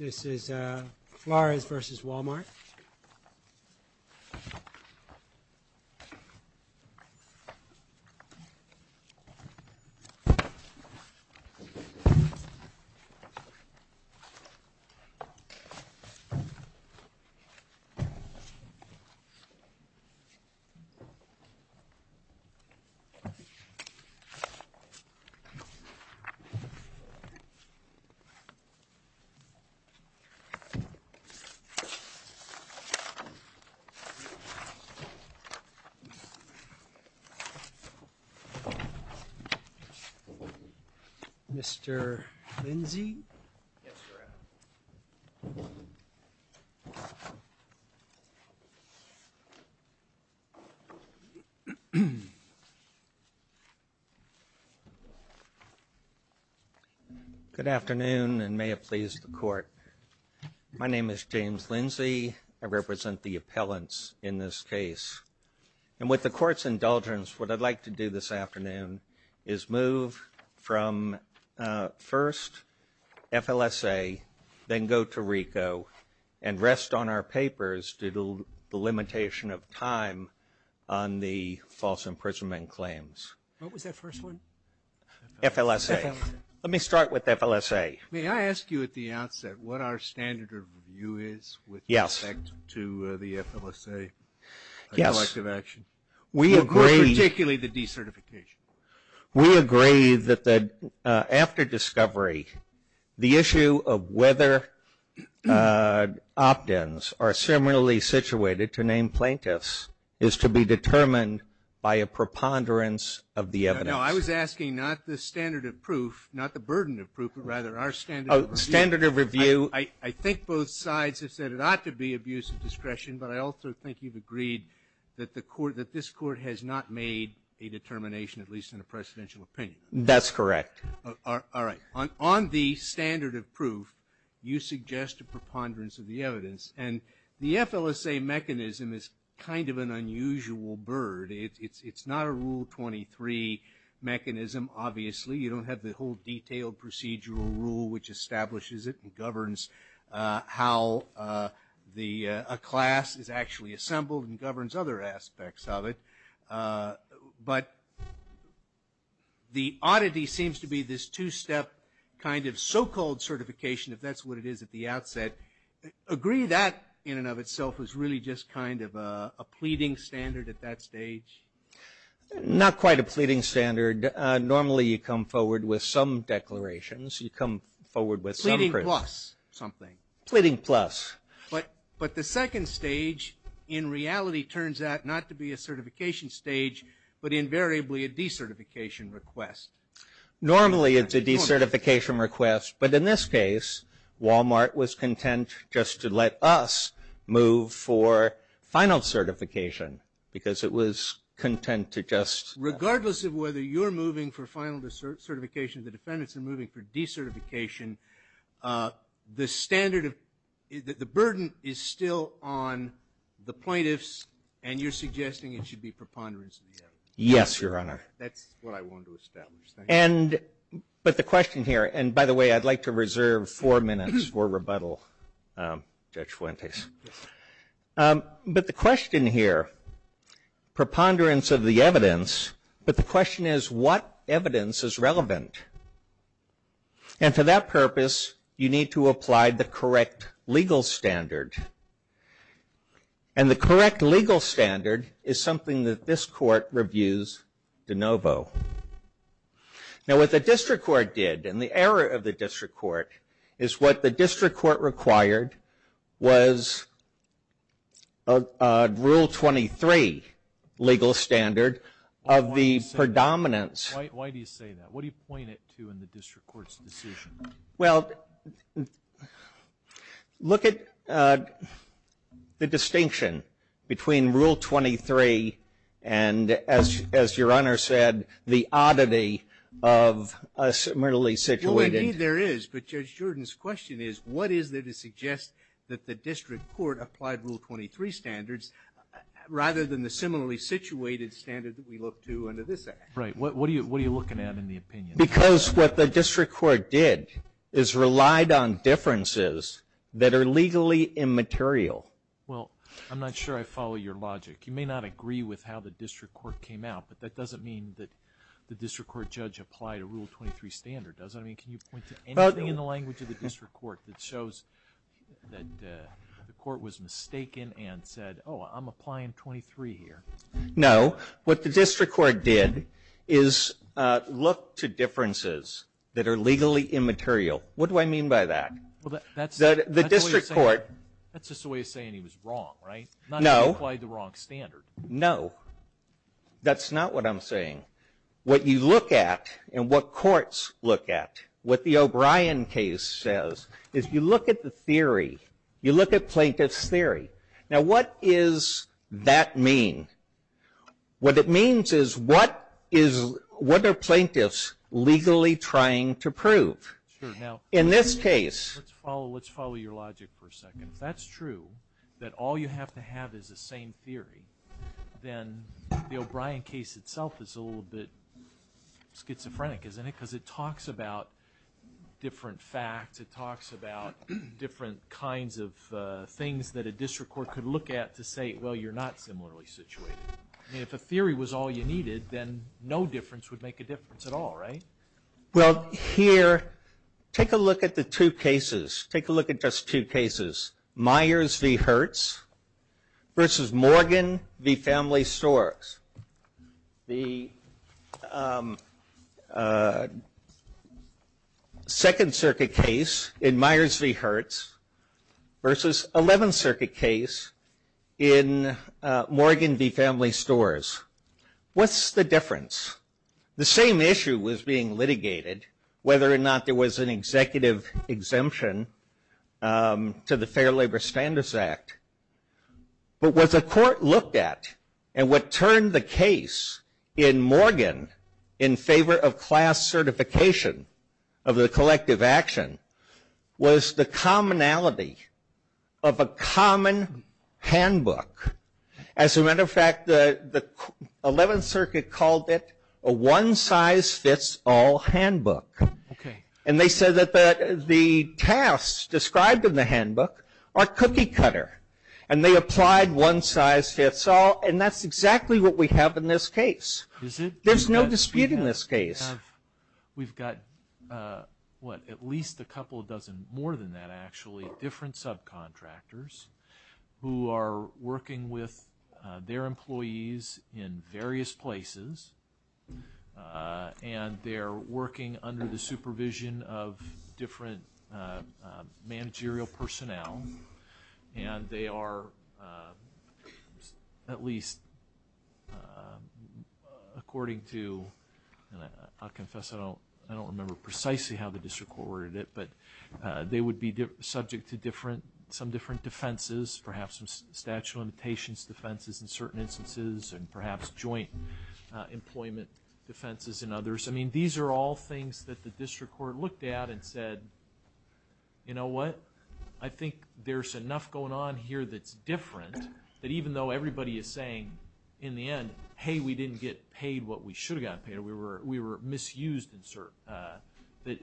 This is Flores vs. Wal Mart. Mr. Lindsey? Yes, sir. Good afternoon and may it please the court. My name is James Lindsey. I represent the appellants in this case. And with the court's indulgence, what I'd like to do this afternoon is move from first FLSA, then go to RICO and rest on our papers due to the limitation of time on the false imprisonment claims. What was that first one? FLSA. Let me start with FLSA. May I ask you at the outset what our standard of review is with respect to the FLSA? Yes. Collective action. We agree. Particularly the decertification. We agree that after discovery, the issue of whether opt-ins are similarly situated to name plaintiffs is to be determined by a preponderance of the evidence. No, I was asking not the standard of proof, not the burden of proof, but rather our standard of review. Oh, standard of review. I think both sides have said it ought to be abuse of discretion, but I also think you've agreed that this court has not made a determination, at least in a presidential opinion. That's correct. All right. On the standard of proof, you suggest a preponderance of the evidence. And the FLSA mechanism is kind of an unusual bird. It's not a Rule 23 mechanism, obviously. You don't have the whole detailed procedural rule which establishes it and governs how a class is actually assembled and governs other aspects of it. But the oddity seems to be this two-step kind of so-called certification, if that's what it is at the outset. Agree that in and of itself is really just kind of a pleading standard at that stage? Not quite a pleading standard. Normally you come forward with some declarations. You come forward with some proof. Pleading plus something. Pleading plus. But the second stage in reality turns out not to be a certification stage, but invariably a decertification request. Normally it's a decertification request, but in this case, Walmart was content just to let us move for final certification because it was content to just. Regardless of whether you're moving for final certification, the defendants are moving for decertification, the burden is still on the plaintiffs and you're suggesting it should be preponderance of the evidence? Yes, Your Honor. That's what I wanted to establish. But the question here, and by the way, I'd like to reserve four minutes for rebuttal, Judge Fuentes. But the question here, preponderance of the evidence, but the question is what evidence is relevant? And for that purpose, you need to apply the correct legal standard. And the correct legal standard is something that this Court reviews de novo. Now what the District Court did, and the error of the District Court, is what the District Court required was Rule 23 legal standard of the predominance. Why do you say that? What do you point it to in the District Court's decision? Well, look at the distinction between Rule 23 and, as Your Honor said, the oddity of a similarly situated. Well, maybe there is, but Judge Jordan's question is what is there to suggest that the District Court applied Rule 23 standards rather than the similarly situated standard that we look to under this Act? Right. What are you looking at in the opinion? Because what the District Court did is relied on differences that are legally immaterial. Well, I'm not sure I follow your logic. You may not agree with how the District Court came out, but that doesn't mean that the District Court judge applied a Rule 23 standard, does it? I mean, can you point to anything in the language of the District Court that shows that the Court was mistaken and said, oh, I'm applying 23 here? No. What the District Court did is look to differences that are legally immaterial. What do I mean by that? That's just the way of saying he was wrong, right? No. Not that he applied the wrong standard. No. That's not what I'm saying. What you look at and what courts look at, what the O'Brien case says, is you look at the theory. You look at plaintiff's theory. Now, what does that mean? What it means is what are plaintiffs legally trying to prove in this case? Let's follow your logic for a second. If that's true, that all you have to have is the same theory, then the O'Brien case itself is a little bit schizophrenic, isn't it? Because it talks about different facts. It talks about different kinds of things that a District Court could look at to say, well, you're not similarly situated. I mean, if a theory was all you needed, then no difference would make a difference at all, right? Well, here, take a look at the two cases. Take a look at just two cases, Myers v. Hertz versus Morgan v. Family Storks. The Second Circuit case in Myers v. Hertz versus Eleventh Circuit case in Morgan v. Family Storks. What's the difference? The same issue was being litigated, whether or not there was an executive exemption to the Fair Labor Standards Act. But what the court looked at, and what turned the case in Morgan in favor of class certification of the collective action, was the commonality of a common handbook. As a matter of fact, the Eleventh Circuit called it a one-size-fits-all handbook. And they said that the tasks described in the handbook are cookie-cutter, and they applied one-size-fits-all, and that's exactly what we have in this case. There's no dispute in this case. We've got, what, at least a couple dozen more than that, actually, different subcontractors who are working with their employees in various places, and they're working under the supervision of different managerial personnel, and they are at least, according to, and I'll confess I don't remember precisely how the district court ordered it, but they would be subject to some different defenses, perhaps some statute of limitations defenses in certain instances, and perhaps joint employment defenses in others. I mean, these are all things that the district court looked at and said, you know what, I think there's enough going on here that's different, that even though everybody is saying, in the end, hey, we didn't get paid what we should have gotten paid, we were misused, that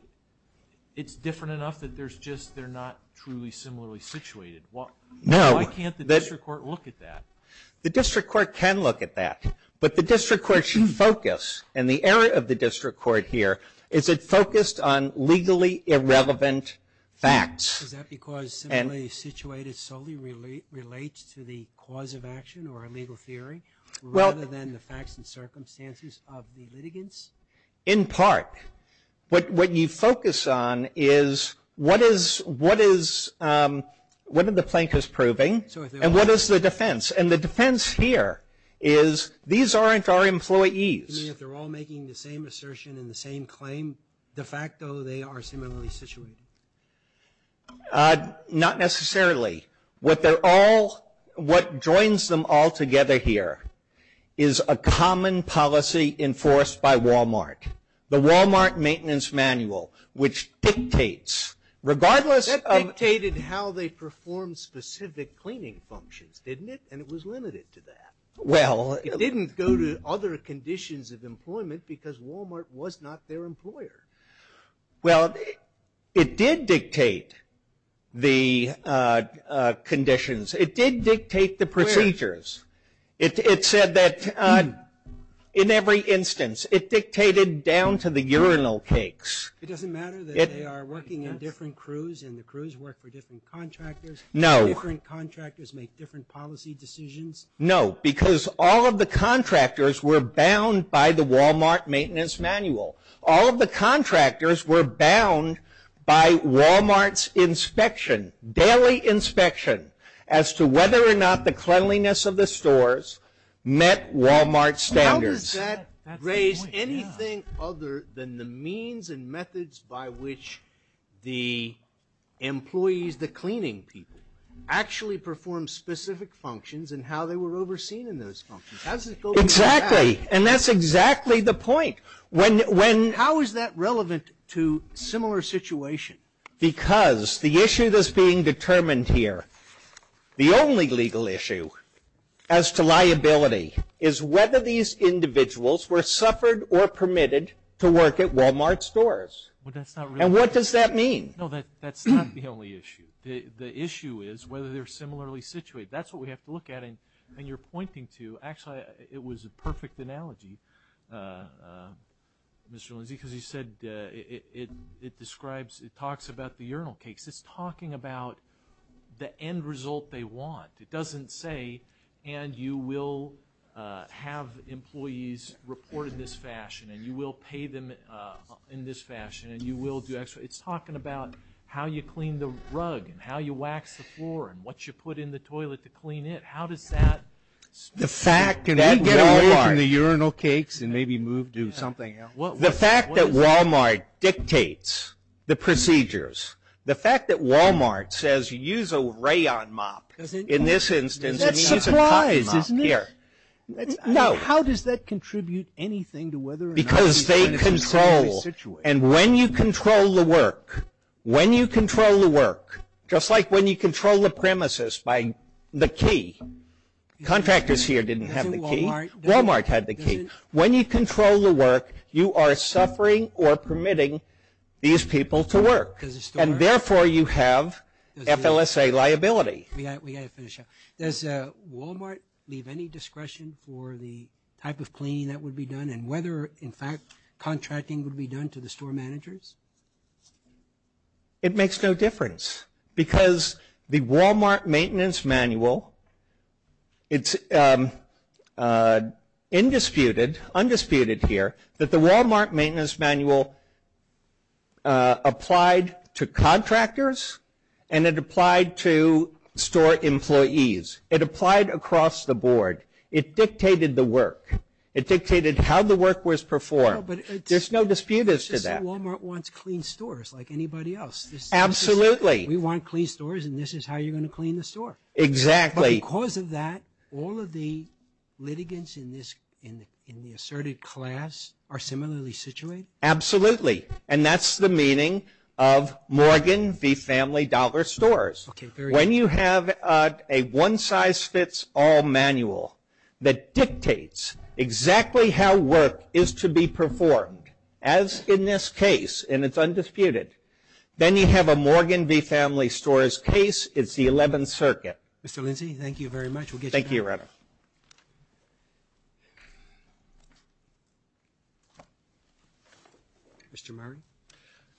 it's different enough that there's just, they're not truly similarly situated. Why can't the district court look at that? The district court can look at that, but the district court should focus, and the error of the district court here is it focused on legally irrelevant facts. Is that because simply situated solely relates to the cause of action or a legal theory, rather than the facts and circumstances of the litigants? In part. What you focus on is what is, what is, what are the Plankers proving, and what is the defense? And the defense here is these aren't our employees. You mean if they're all making the same assertion and the same claim, de facto they are similarly situated? Not necessarily. What they're all, what joins them all together here is a common policy enforced by Walmart. The Walmart maintenance manual, which dictates, regardless of. That dictated how they performed specific cleaning functions, didn't it? And it was limited to that. Well. It didn't go to other conditions of employment because Walmart was not their employer. Well, it did dictate the conditions. It did dictate the procedures. Where? It said that in every instance. It dictated down to the urinal cakes. It doesn't matter that they are working in different crews and the crews work for different contractors. No. Different contractors make different policy decisions. No, because all of the contractors were bound by the Walmart maintenance manual. All of the contractors were bound by Walmart's inspection, daily inspection, as to whether or not the cleanliness of the stores met Walmart standards. How does that raise anything other than the means and methods by which the employees, the cleaning people, actually perform specific functions and how they were overseen in those functions? How does it go back? Exactly. And that's exactly the point. How is that relevant to similar situation? Because the issue that's being determined here, the only legal issue as to liability, is whether these individuals were suffered or permitted to work at Walmart stores. Well, that's not really. And what does that mean? No, that's not the only issue. The issue is whether they're similarly situated. That's what we have to look at. And you're pointing to, actually, it was a perfect analogy, Mr. Lindsey, because you said it describes, it talks about the urinal case. It's talking about the end result they want. It doesn't say, and you will have employees report in this fashion, and you will pay them in this fashion, and you will do X. It's talking about how you clean the rug and how you wax the floor and what you put in the toilet to clean it. The fact that Walmart dictates the procedures, the fact that Walmart says use a rayon mop in this instance and use a cotton mop here. How does that contribute anything to whether or not these men are similarly situated? Because they control. And when you control the work, when you control the work, by the key. Contractors here didn't have the key. Walmart had the key. When you control the work, you are suffering or permitting these people to work. And therefore, you have FLSA liability. We've got to finish up. Does Walmart leave any discretion for the type of cleaning that would be done and whether, in fact, contracting would be done to the store managers? It makes no difference. Because the Walmart maintenance manual, it's undisputed here that the Walmart maintenance manual applied to contractors and it applied to store employees. It applied across the board. It dictated the work. It dictated how the work was performed. There's no dispute as to that. It's just that Walmart wants clean stores like anybody else. Absolutely. We want clean stores and this is how you're going to clean the store. Exactly. But because of that, all of the litigants in the asserted class are similarly situated? Absolutely. And that's the meaning of Morgan v. Family Dollar Stores. When you have a one-size-fits-all manual that dictates exactly how work is to be performed, as in this case, and it's undisputed, then you have a Morgan v. Family Stores case, it's the 11th Circuit. Mr. Lindsey, thank you very much. Thank you, Your Honor. Mr. Murray.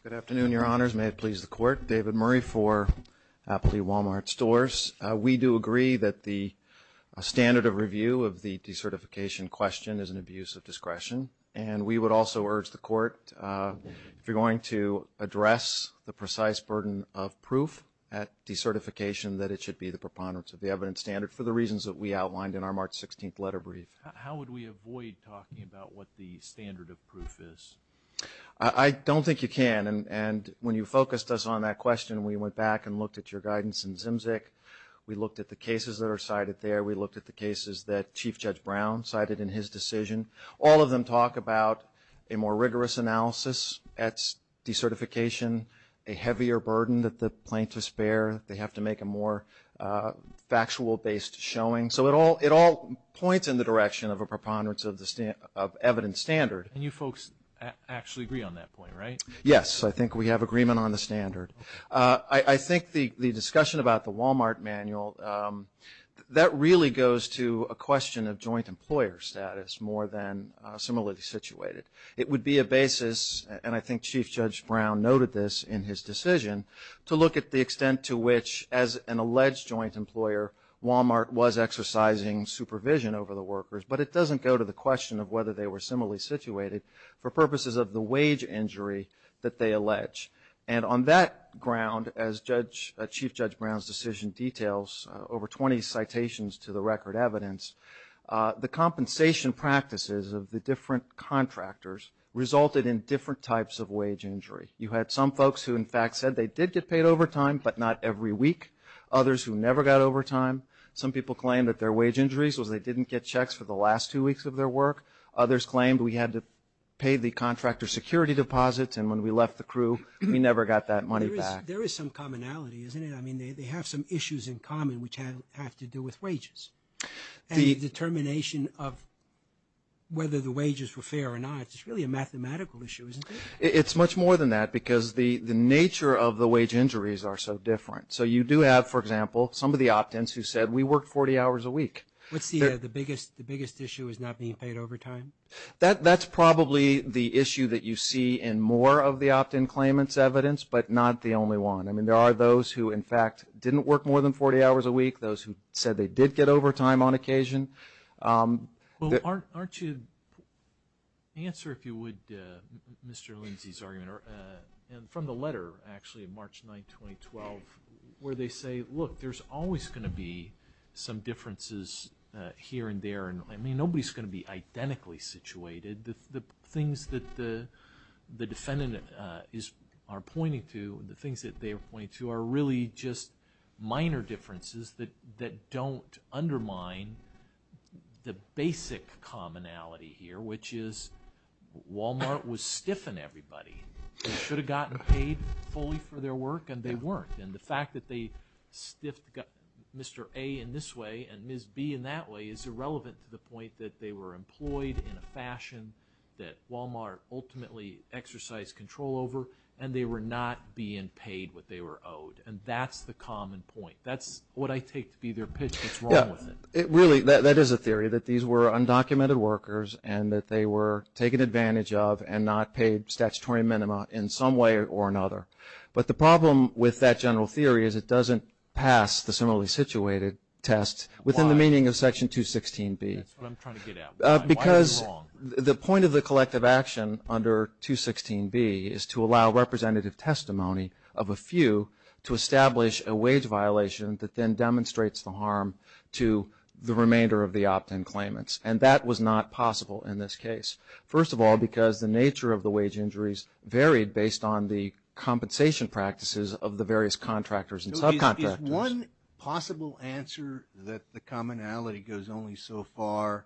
Good afternoon, Your Honors. May it please the Court. David Murray for Appley Walmart Stores. We do agree that the standard of review of the decertification question is an abuse of discretion and we would also urge the Court, if you're going to address the precise burden of proof at decertification, that it should be the preponderance of the evidence standard for the reasons that we outlined in our March 16th letter brief. How would we avoid talking about what the standard of proof is? I don't think you can, and when you focused us on that question, we went back and looked at your guidance in Zimzik. We looked at the cases that are cited there. We looked at the cases that Chief Judge Brown cited in his decision. All of them talk about a more rigorous analysis at decertification, a heavier burden that the plaintiffs bear. They have to make a more factual-based showing. So it all points in the direction of a preponderance of evidence standard. And you folks actually agree on that point, right? Yes, I think we have agreement on the standard. I think the discussion about the Walmart manual, that really goes to a question of joint employer status more than similarly situated. It would be a basis, and I think Chief Judge Brown noted this in his decision, to look at the extent to which, as an alleged joint employer, Walmart was exercising supervision over the workers. But it doesn't go to the question of whether they were similarly situated for purposes of the wage injury that they allege. And on that ground, as Chief Judge Brown's decision details, over 20 citations to the record evidence, the compensation practices of the different contractors resulted in different types of wage injury. You had some folks who, in fact, said they did get paid overtime, but not every week. Others who never got overtime. Some people claimed that their wage injuries was they didn't get checks for the last two weeks of their work. Others claimed we had to pay the contractor security deposits, and when we left the crew, we never got that money back. There is some commonality, isn't it? I mean, they have some issues in common which have to do with wages. And the determination of whether the wages were fair or not, it's really a mathematical issue, isn't it? It's much more than that because the nature of the wage injuries are so different. So you do have, for example, some of the opt-ins who said we work 40 hours a week. What's the biggest issue is not being paid overtime? That's probably the issue that you see in more of the opt-in claimants' evidence, but not the only one. I mean, there are those who, in fact, didn't work more than 40 hours a week, those who said they did get overtime on occasion. Well, aren't you answer, if you would, Mr. Lindsay's argument, and from the letter, actually, March 9, 2012, where they say, look, there's always going to be some differences here and there. I mean, nobody's going to be identically situated. The things that the defendant are pointing to, the things that they are pointing to, are really just minor differences that don't undermine the basic commonality here, which is Walmart was stiff in everybody. They should have gotten paid fully for their work, and they weren't. And the fact that they stiffed Mr. A in this way and Ms. B in that way is irrelevant to the point that they were employed in a fashion that Walmart ultimately exercised control over, and they were not being paid what they were owed. And that's the common point. That's what I take to be their pitch. What's wrong with it? Really, that is a theory, that these were undocumented workers and that they were taken advantage of and not paid statutory minima in some way or another. But the problem with that general theory is it doesn't pass the similarly situated test within the meaning of Section 216B. That's what I'm trying to get at. Why is it wrong? Because the point of the collective action under 216B is to allow representative testimony of a few to establish a wage violation that then demonstrates the harm to the remainder of the opt-in claimants. And that was not possible in this case, first of all, because the nature of the wage injuries varied based on the compensation practices of the various contractors and subcontractors. Is one possible answer that the commonality goes only so far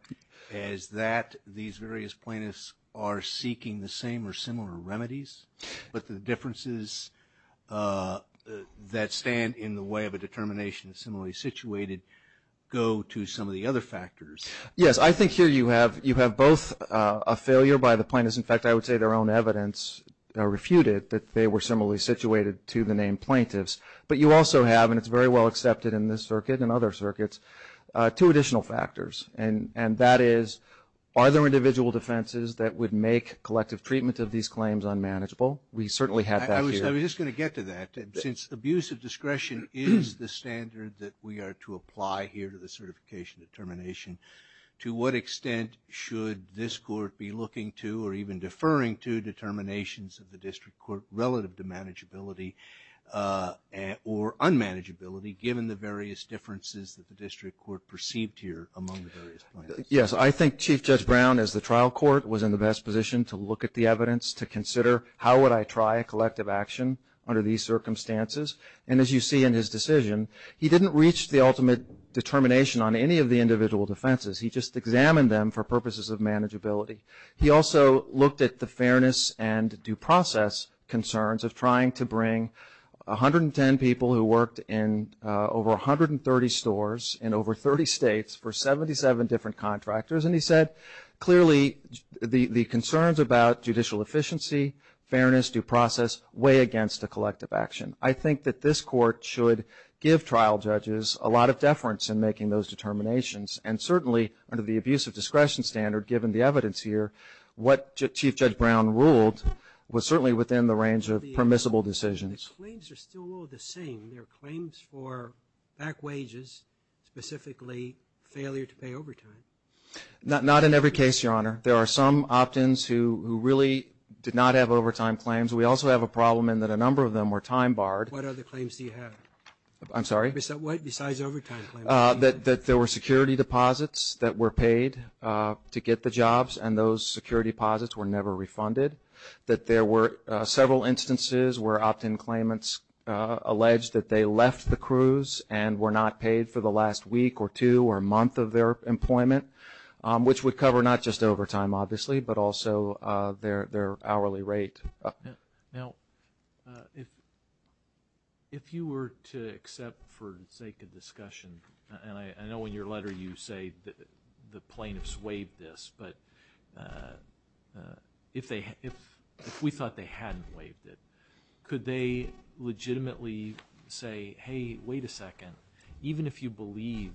as that these various plaintiffs are seeking the same or similar remedies, but the differences that stand in the way of a determination of similarly situated go to some of the other factors? Yes, I think here you have both a failure by the plaintiffs. In fact, I would say their own evidence refuted that they were similarly situated to the named plaintiffs. But you also have, and it's very well accepted in this circuit and other circuits, two additional factors. And that is, are there individual defenses that would make collective treatment of these claims unmanageable? We certainly have that here. I was just going to get to that. Since abuse of discretion is the standard that we are to apply here to the certification determination, to what extent should this court be looking to or even deferring to determinations of the district court relative to manageability or unmanageability given the various differences that the district court perceived here among the various plaintiffs? Yes, I think Chief Judge Brown, as the trial court, was in the best position to look at the evidence to consider how would I try a collective action under these circumstances. And as you see in his decision, he didn't reach the ultimate determination on any of the individual defenses. He just examined them for purposes of manageability. He also looked at the fairness and due process concerns of trying to bring 110 people who worked in over 130 stores in over 30 states for 77 different contractors. And he said, clearly, the concerns about judicial efficiency, fairness, due process, weigh against a collective action. I think that this court should give trial judges a lot of deference in making those determinations. And certainly, under the abuse of discretion standard, given the evidence here, what Chief Judge Brown ruled was certainly within the range of permissible decisions. The claims are still all the same. There are claims for back wages, specifically failure to pay overtime. Not in every case, Your Honor. There are some opt-ins who really did not have overtime claims. We also have a problem in that a number of them were time barred. What other claims do you have? I'm sorry? What besides overtime claims? That there were security deposits that were paid to get the jobs, and those security deposits were never refunded. That there were several instances where opt-in claimants alleged that they left the cruise and were not paid for the last week or two or month of their employment, which would cover not just overtime, obviously, but also their hourly rate. Now, if you were to accept for the sake of discussion, and I know in your letter you say the plaintiffs waived this, but if we thought they hadn't waived it, could they legitimately say, hey, wait a second, even if you believed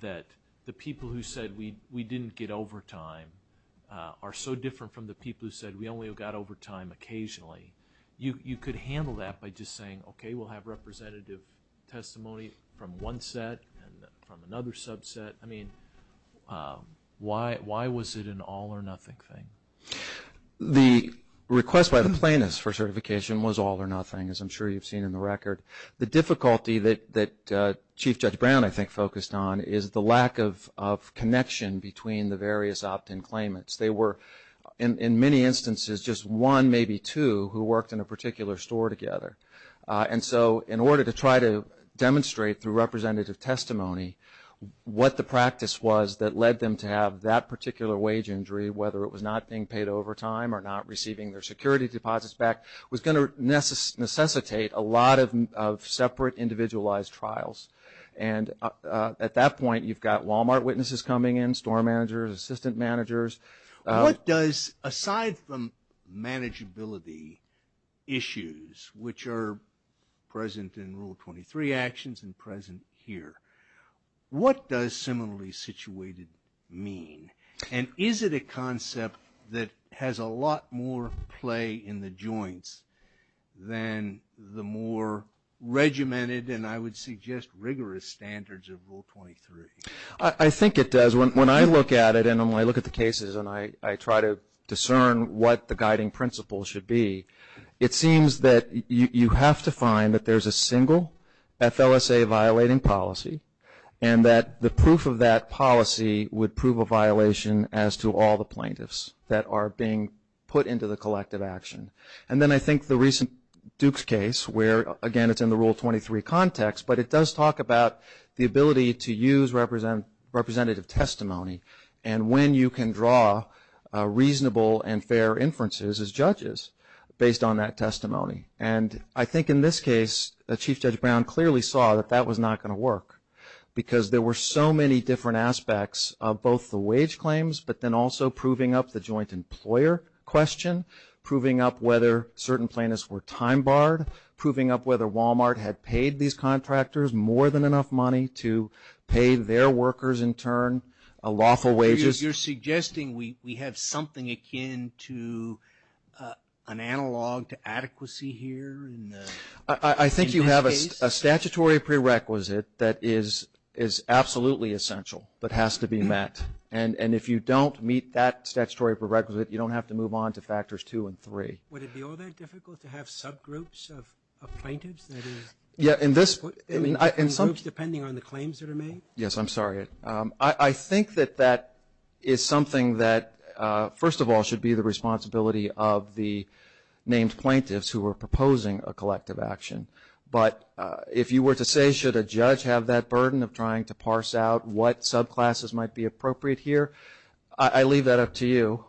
that the people who said we didn't get overtime are so different from the people who said we only got overtime occasionally, you could handle that by just saying, okay, we'll have representative testimony from one set and from another subset. I mean, why was it an all or nothing thing? The request by the plaintiffs for certification was all or nothing, as I'm sure you've seen in the record. The difficulty that Chief Judge Brown, I think, focused on is the lack of connection between the various opt-in claimants. They were, in many instances, just one, maybe two, who worked in a particular store together. And so in order to try to demonstrate through representative testimony what the practice was that led them to have that particular wage injury, whether it was not being paid overtime or not receiving their security deposits back, was going to necessitate a lot of separate individualized trials. And at that point, you've got Walmart witnesses coming in, store managers, assistant managers. What does, aside from manageability issues, which are present in Rule 23 actions and present here, what does similarly situated mean? And is it a concept that has a lot more play in the joints than the more regimented and, I would suggest, rigorous standards of Rule 23? I think it does. When I look at it and I look at the cases and I try to discern what the guiding principles should be, it seems that you have to find that there's a single FLSA-violating policy and that the proof of that policy would prove a violation as to all the plaintiffs that are being put into the collective action. And then I think the recent Dukes case where, again, it's in the Rule 23 context, but it does talk about the ability to use representative testimony and when you can draw reasonable and fair inferences as judges based on that testimony. And I think in this case, Chief Judge Brown clearly saw that that was not going to work because there were so many different aspects of both the wage claims but then also proving up the joint employer question, proving up whether certain plaintiffs were time barred, proving up whether Walmart had paid these contractors more than enough money to pay their workers in turn a lawful wages. You're suggesting we have something akin to an analog to adequacy here in this case? I think you have a statutory prerequisite that is absolutely essential but has to be met. And if you don't meet that statutory prerequisite, you don't have to move on to factors two and three. Would it be all that difficult to have subgroups of plaintiffs that are put in groups depending on the claims that are made? Yes, I'm sorry. I think that that is something that, first of all, should be the responsibility of the named plaintiffs who are proposing a collective action. But if you were to say should a judge have that burden of trying to parse out what subclasses might be appropriate here, I leave that up to you.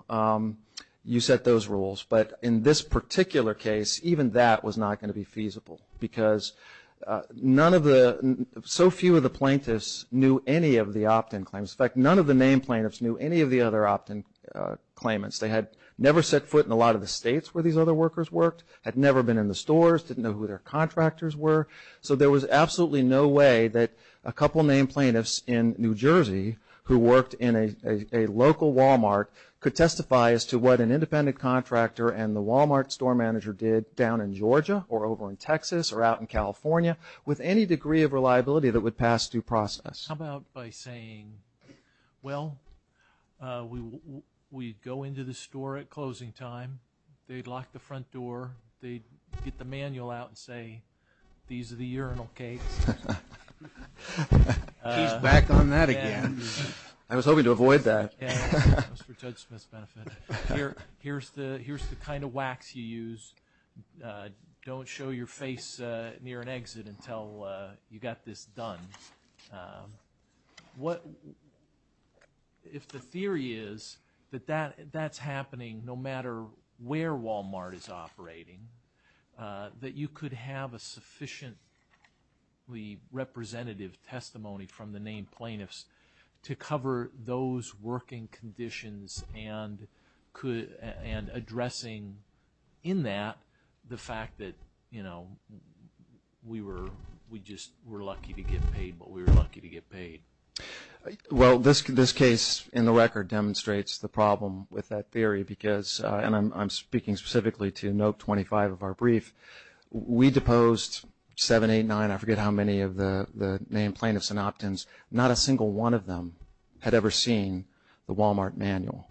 You set those rules. But in this particular case, even that was not going to be feasible because so few of the plaintiffs knew any of the opt-in claims. In fact, none of the named plaintiffs knew any of the other opt-in claimants. They had never set foot in a lot of the states where these other workers worked, had never been in the stores, didn't know who their contractors were. So there was absolutely no way that a couple named plaintiffs in New Jersey who worked in a local Walmart could testify as to what an independent contractor and the Walmart store manager did down in Georgia or over in Texas or out in California with any degree of reliability that would pass due process. How about by saying, well, we go into the store at closing time. They'd lock the front door. They'd get the manual out and say, these are the urinal cakes. He's back on that again. I was hoping to avoid that. That was for Judge Smith's benefit. Here's the kind of wax you use. Don't show your face near an exit until you got this done. If the theory is that that's happening no matter where Walmart is operating, that you could have a sufficiently representative testimony from the named plaintiffs to cover those working conditions and addressing in that the fact that, you know, we just were lucky to get paid what we were lucky to get paid. Well, this case in the record demonstrates the problem with that theory because I'm speaking specifically to note 25 of our brief. We deposed 7, 8, 9, I forget how many of the named plaintiffs and opt-ins. Not a single one of them had ever seen the Walmart manual.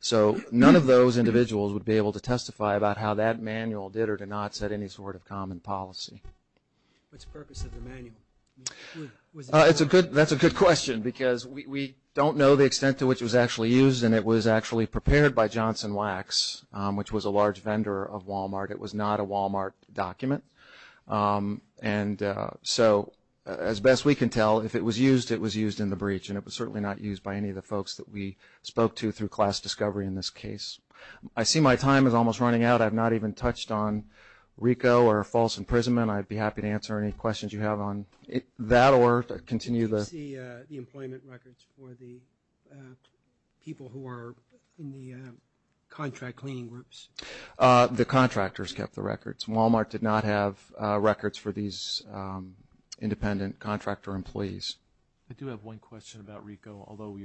So none of those individuals would be able to testify about how that manual did or did not set any sort of common policy. What's the purpose of the manual? That's a good question because we don't know the extent to which it was actually used and it was actually prepared by Johnson Wax, which was a large vendor of Walmart. It was not a Walmart document. And so as best we can tell, if it was used, it was used in the breach and it was certainly not used by any of the folks that we spoke to through class discovery in this case. I see my time is almost running out. I have not even touched on RICO or false imprisonment. I'd be happy to answer any questions you have on that or continue the… Did you see the employment records for the people who are in the contract cleaning groups? The contractors kept the records. Walmart did not have records for these independent contractor employees. I do have one question about RICO, although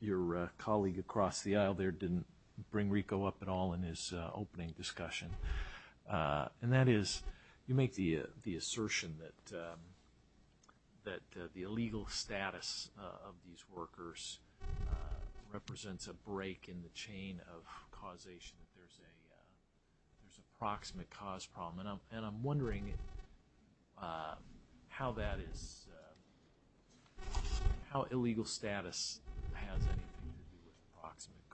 your colleague across the aisle there didn't bring RICO up at all in his opening discussion, and that is you make the assertion that the illegal status of these workers represents a break in the chain of causation, that there's a proximate cause problem. And I'm wondering how that is, how illegal status has anything to do with proximate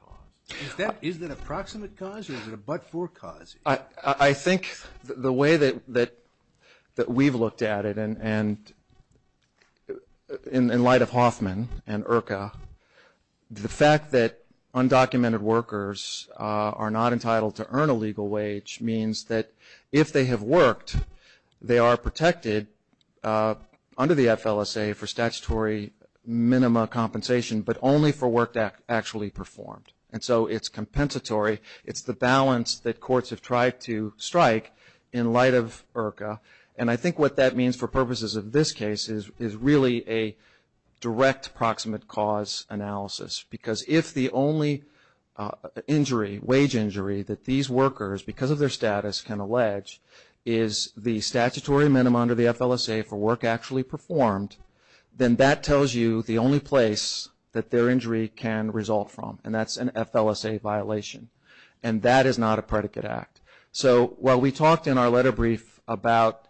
cause. Is that a proximate cause or is it a but-for cause? I think the way that we've looked at it, and in light of Hoffman and IRCA, the fact that undocumented workers are not entitled to earn a legal wage means that if they have worked, they are protected under the FLSA for statutory minima compensation, but only for work actually performed, and so it's compensatory. It's the balance that courts have tried to strike in light of IRCA, and I think what that means for purposes of this case is really a direct proximate cause analysis, because if the only wage injury that these workers, because of their status, can allege, is the statutory minima under the FLSA for work actually performed, then that tells you the only place that their injury can result from, and that's an FLSA violation. And that is not a predicate act. So while we talked in our letter brief about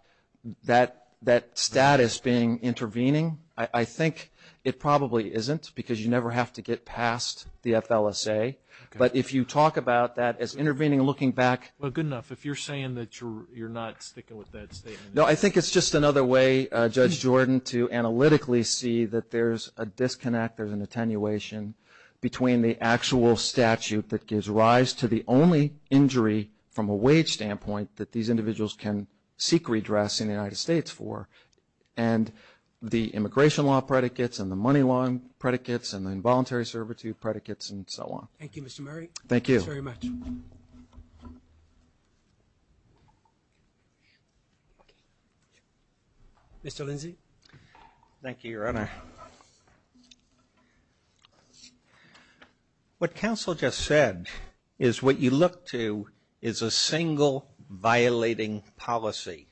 that status being intervening, I think it probably isn't, because you never have to get past the FLSA. But if you talk about that as intervening and looking back. Well, good enough. If you're saying that you're not sticking with that statement. No, I think it's just another way, Judge Jordan, to analytically see that there's a disconnect, there's an attenuation between the actual statute that gives rise to the only injury from a wage standpoint that these individuals can seek redress in the United States for, and the immigration law predicates and the money loan predicates and the involuntary servitude predicates and so on. Thank you, Mr. Murray. Thank you. Thank you very much. Mr. Lindsey. Thank you, Your Honor. What counsel just said is what you look to is a single violating policy,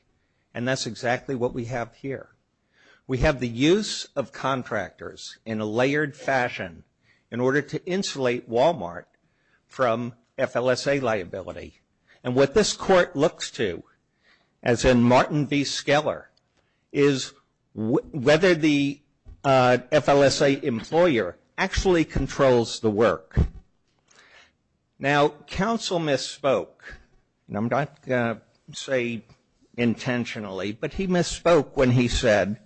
and that's exactly what we have here. We have the use of contractors in a layered fashion in order to insulate Walmart from FLSA liability. And what this court looks to, as in Martin v. Skeller, is whether the FLSA employer actually controls the work. Now, counsel misspoke. And I'm not going to say intentionally, but he misspoke when he said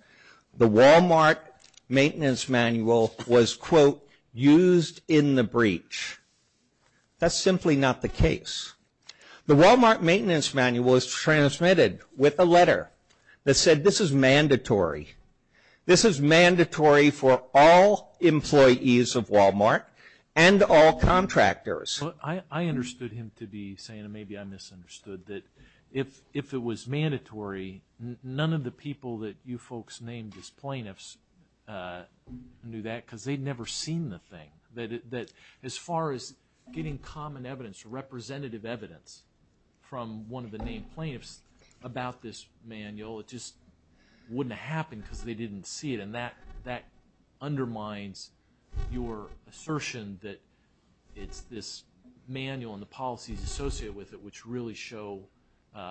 the Walmart maintenance manual was, quote, used in the breach. That's simply not the case. The Walmart maintenance manual is transmitted with a letter that said this is mandatory. This is mandatory for all employees of Walmart and all contractors. I understood him to be saying, and maybe I misunderstood, that if it was mandatory none of the people that you folks named as plaintiffs knew that because they'd never seen the thing. That as far as getting common evidence, representative evidence, from one of the named plaintiffs about this manual, it just wouldn't have happened because they didn't see it. And that undermines your assertion that it's this manual and the policies associated with it which really show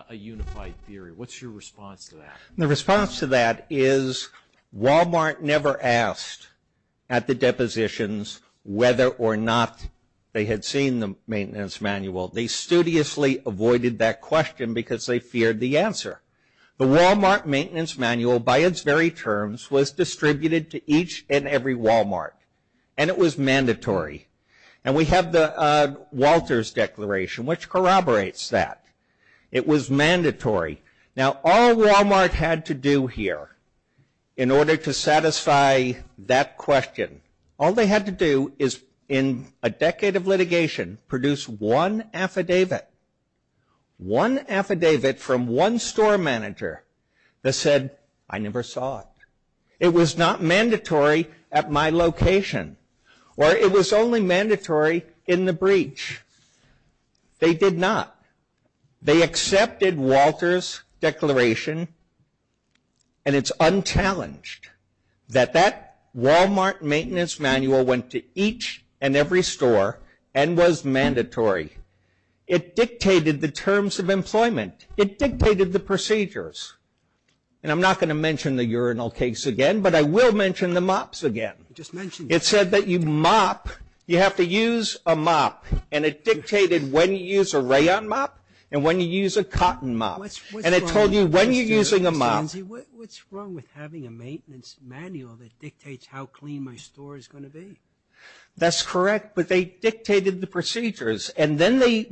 a unified theory. What's your response to that? The response to that is Walmart never asked at the depositions whether or not they had seen the maintenance manual. They studiously avoided that question because they feared the answer. The Walmart maintenance manual by its very terms was distributed to each and every Walmart and it was mandatory. And we have the Walters Declaration which corroborates that. It was mandatory. Now all Walmart had to do here in order to satisfy that question, all they had to do is in a decade of litigation produce one affidavit. One affidavit from one store manager that said, I never saw it. It was not mandatory at my location or it was only mandatory in the breach. They did not. They accepted Walters Declaration and it's unchallenged that that Walmart maintenance manual went to each and every store and was mandatory. It dictated the terms of employment. It dictated the procedures. And I'm not going to mention the urinal case again, but I will mention the mops again. It said that you mop, you have to use a mop. And it dictated when you use a rayon mop and when you use a cotton mop. And it told you when you're using a mop. What's wrong with having a maintenance manual that dictates how clean my store is going to be? That's correct. But they dictated the procedures. And then they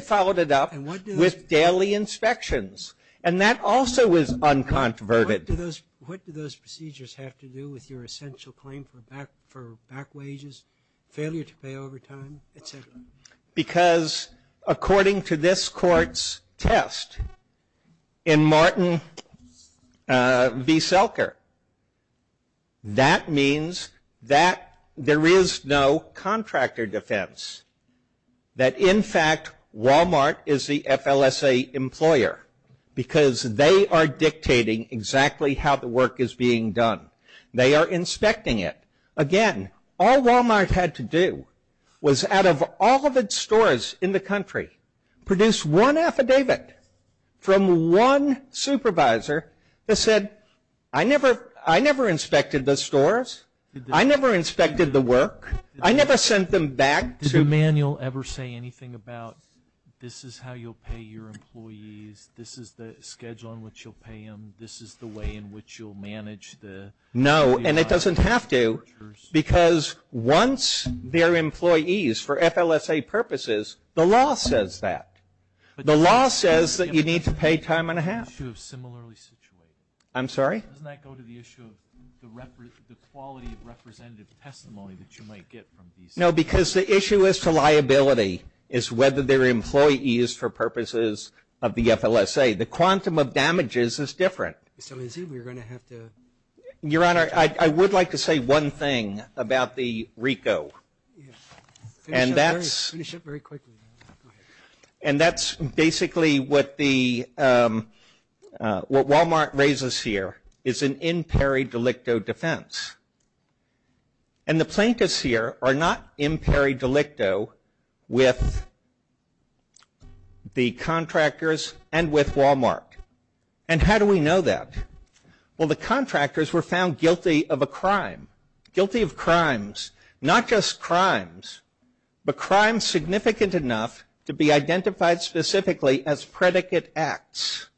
followed it up with daily inspections. And that also was uncontroverted. What do those procedures have to do with your essential claim for back wages, failure to pay overtime, et cetera? Because according to this court's test in Martin v. Selker, that means that there is no contractor defense. That in fact Walmart is the FLSA employer because they are dictating exactly how the work is being done. They are inspecting it. Again, all Walmart had to do was out of all of its stores in the country, produce one affidavit from one supervisor that said, I never inspected the stores. I never inspected the work. I never sent them back to. Did the manual ever say anything about this is how you'll pay your employees. This is the schedule in which you'll pay them. This is the way in which you'll manage the. No, and it doesn't have to. Because once they're employees for FLSA purposes, the law says that. The law says that you need to pay time and a half. I'm sorry? Doesn't that go to the issue of the quality of representative testimony that you might get from these? No, because the issue as to liability is whether they're employees for purposes of the FLSA. The quantum of damages is different. So we're going to have to. Your Honor, I would like to say one thing about the RICO. And that's. Finish it very quickly. And that's basically what the, what Walmart raises here is an in peri delicto defense. And the plaintiffs here are not in peri delicto with the contractors and with Walmart. And how do we know that? Well, the contractors were found guilty of a crime. Guilty of crimes. Not just crimes. But crimes significant enough to be identified specifically as predicate acts.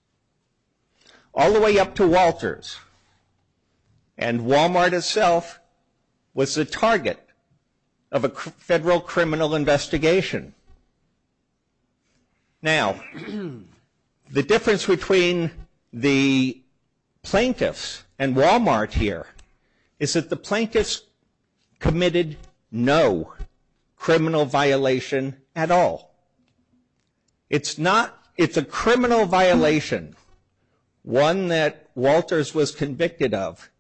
All the way up to Walters. And Walmart itself was the target of a federal criminal investigation. Now, the difference between the plaintiffs and Walmart here is that the plaintiffs committed no criminal violation at all. It's not, it's a criminal violation. One that Walters was convicted of.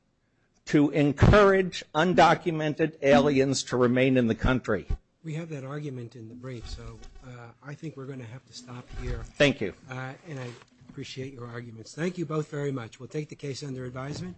To encourage undocumented aliens to remain in the country. We have that argument in the brief, so I think we're going to have to stop here. Thank you. And I appreciate your arguments. Thank you both very much. We'll take the case under advisement.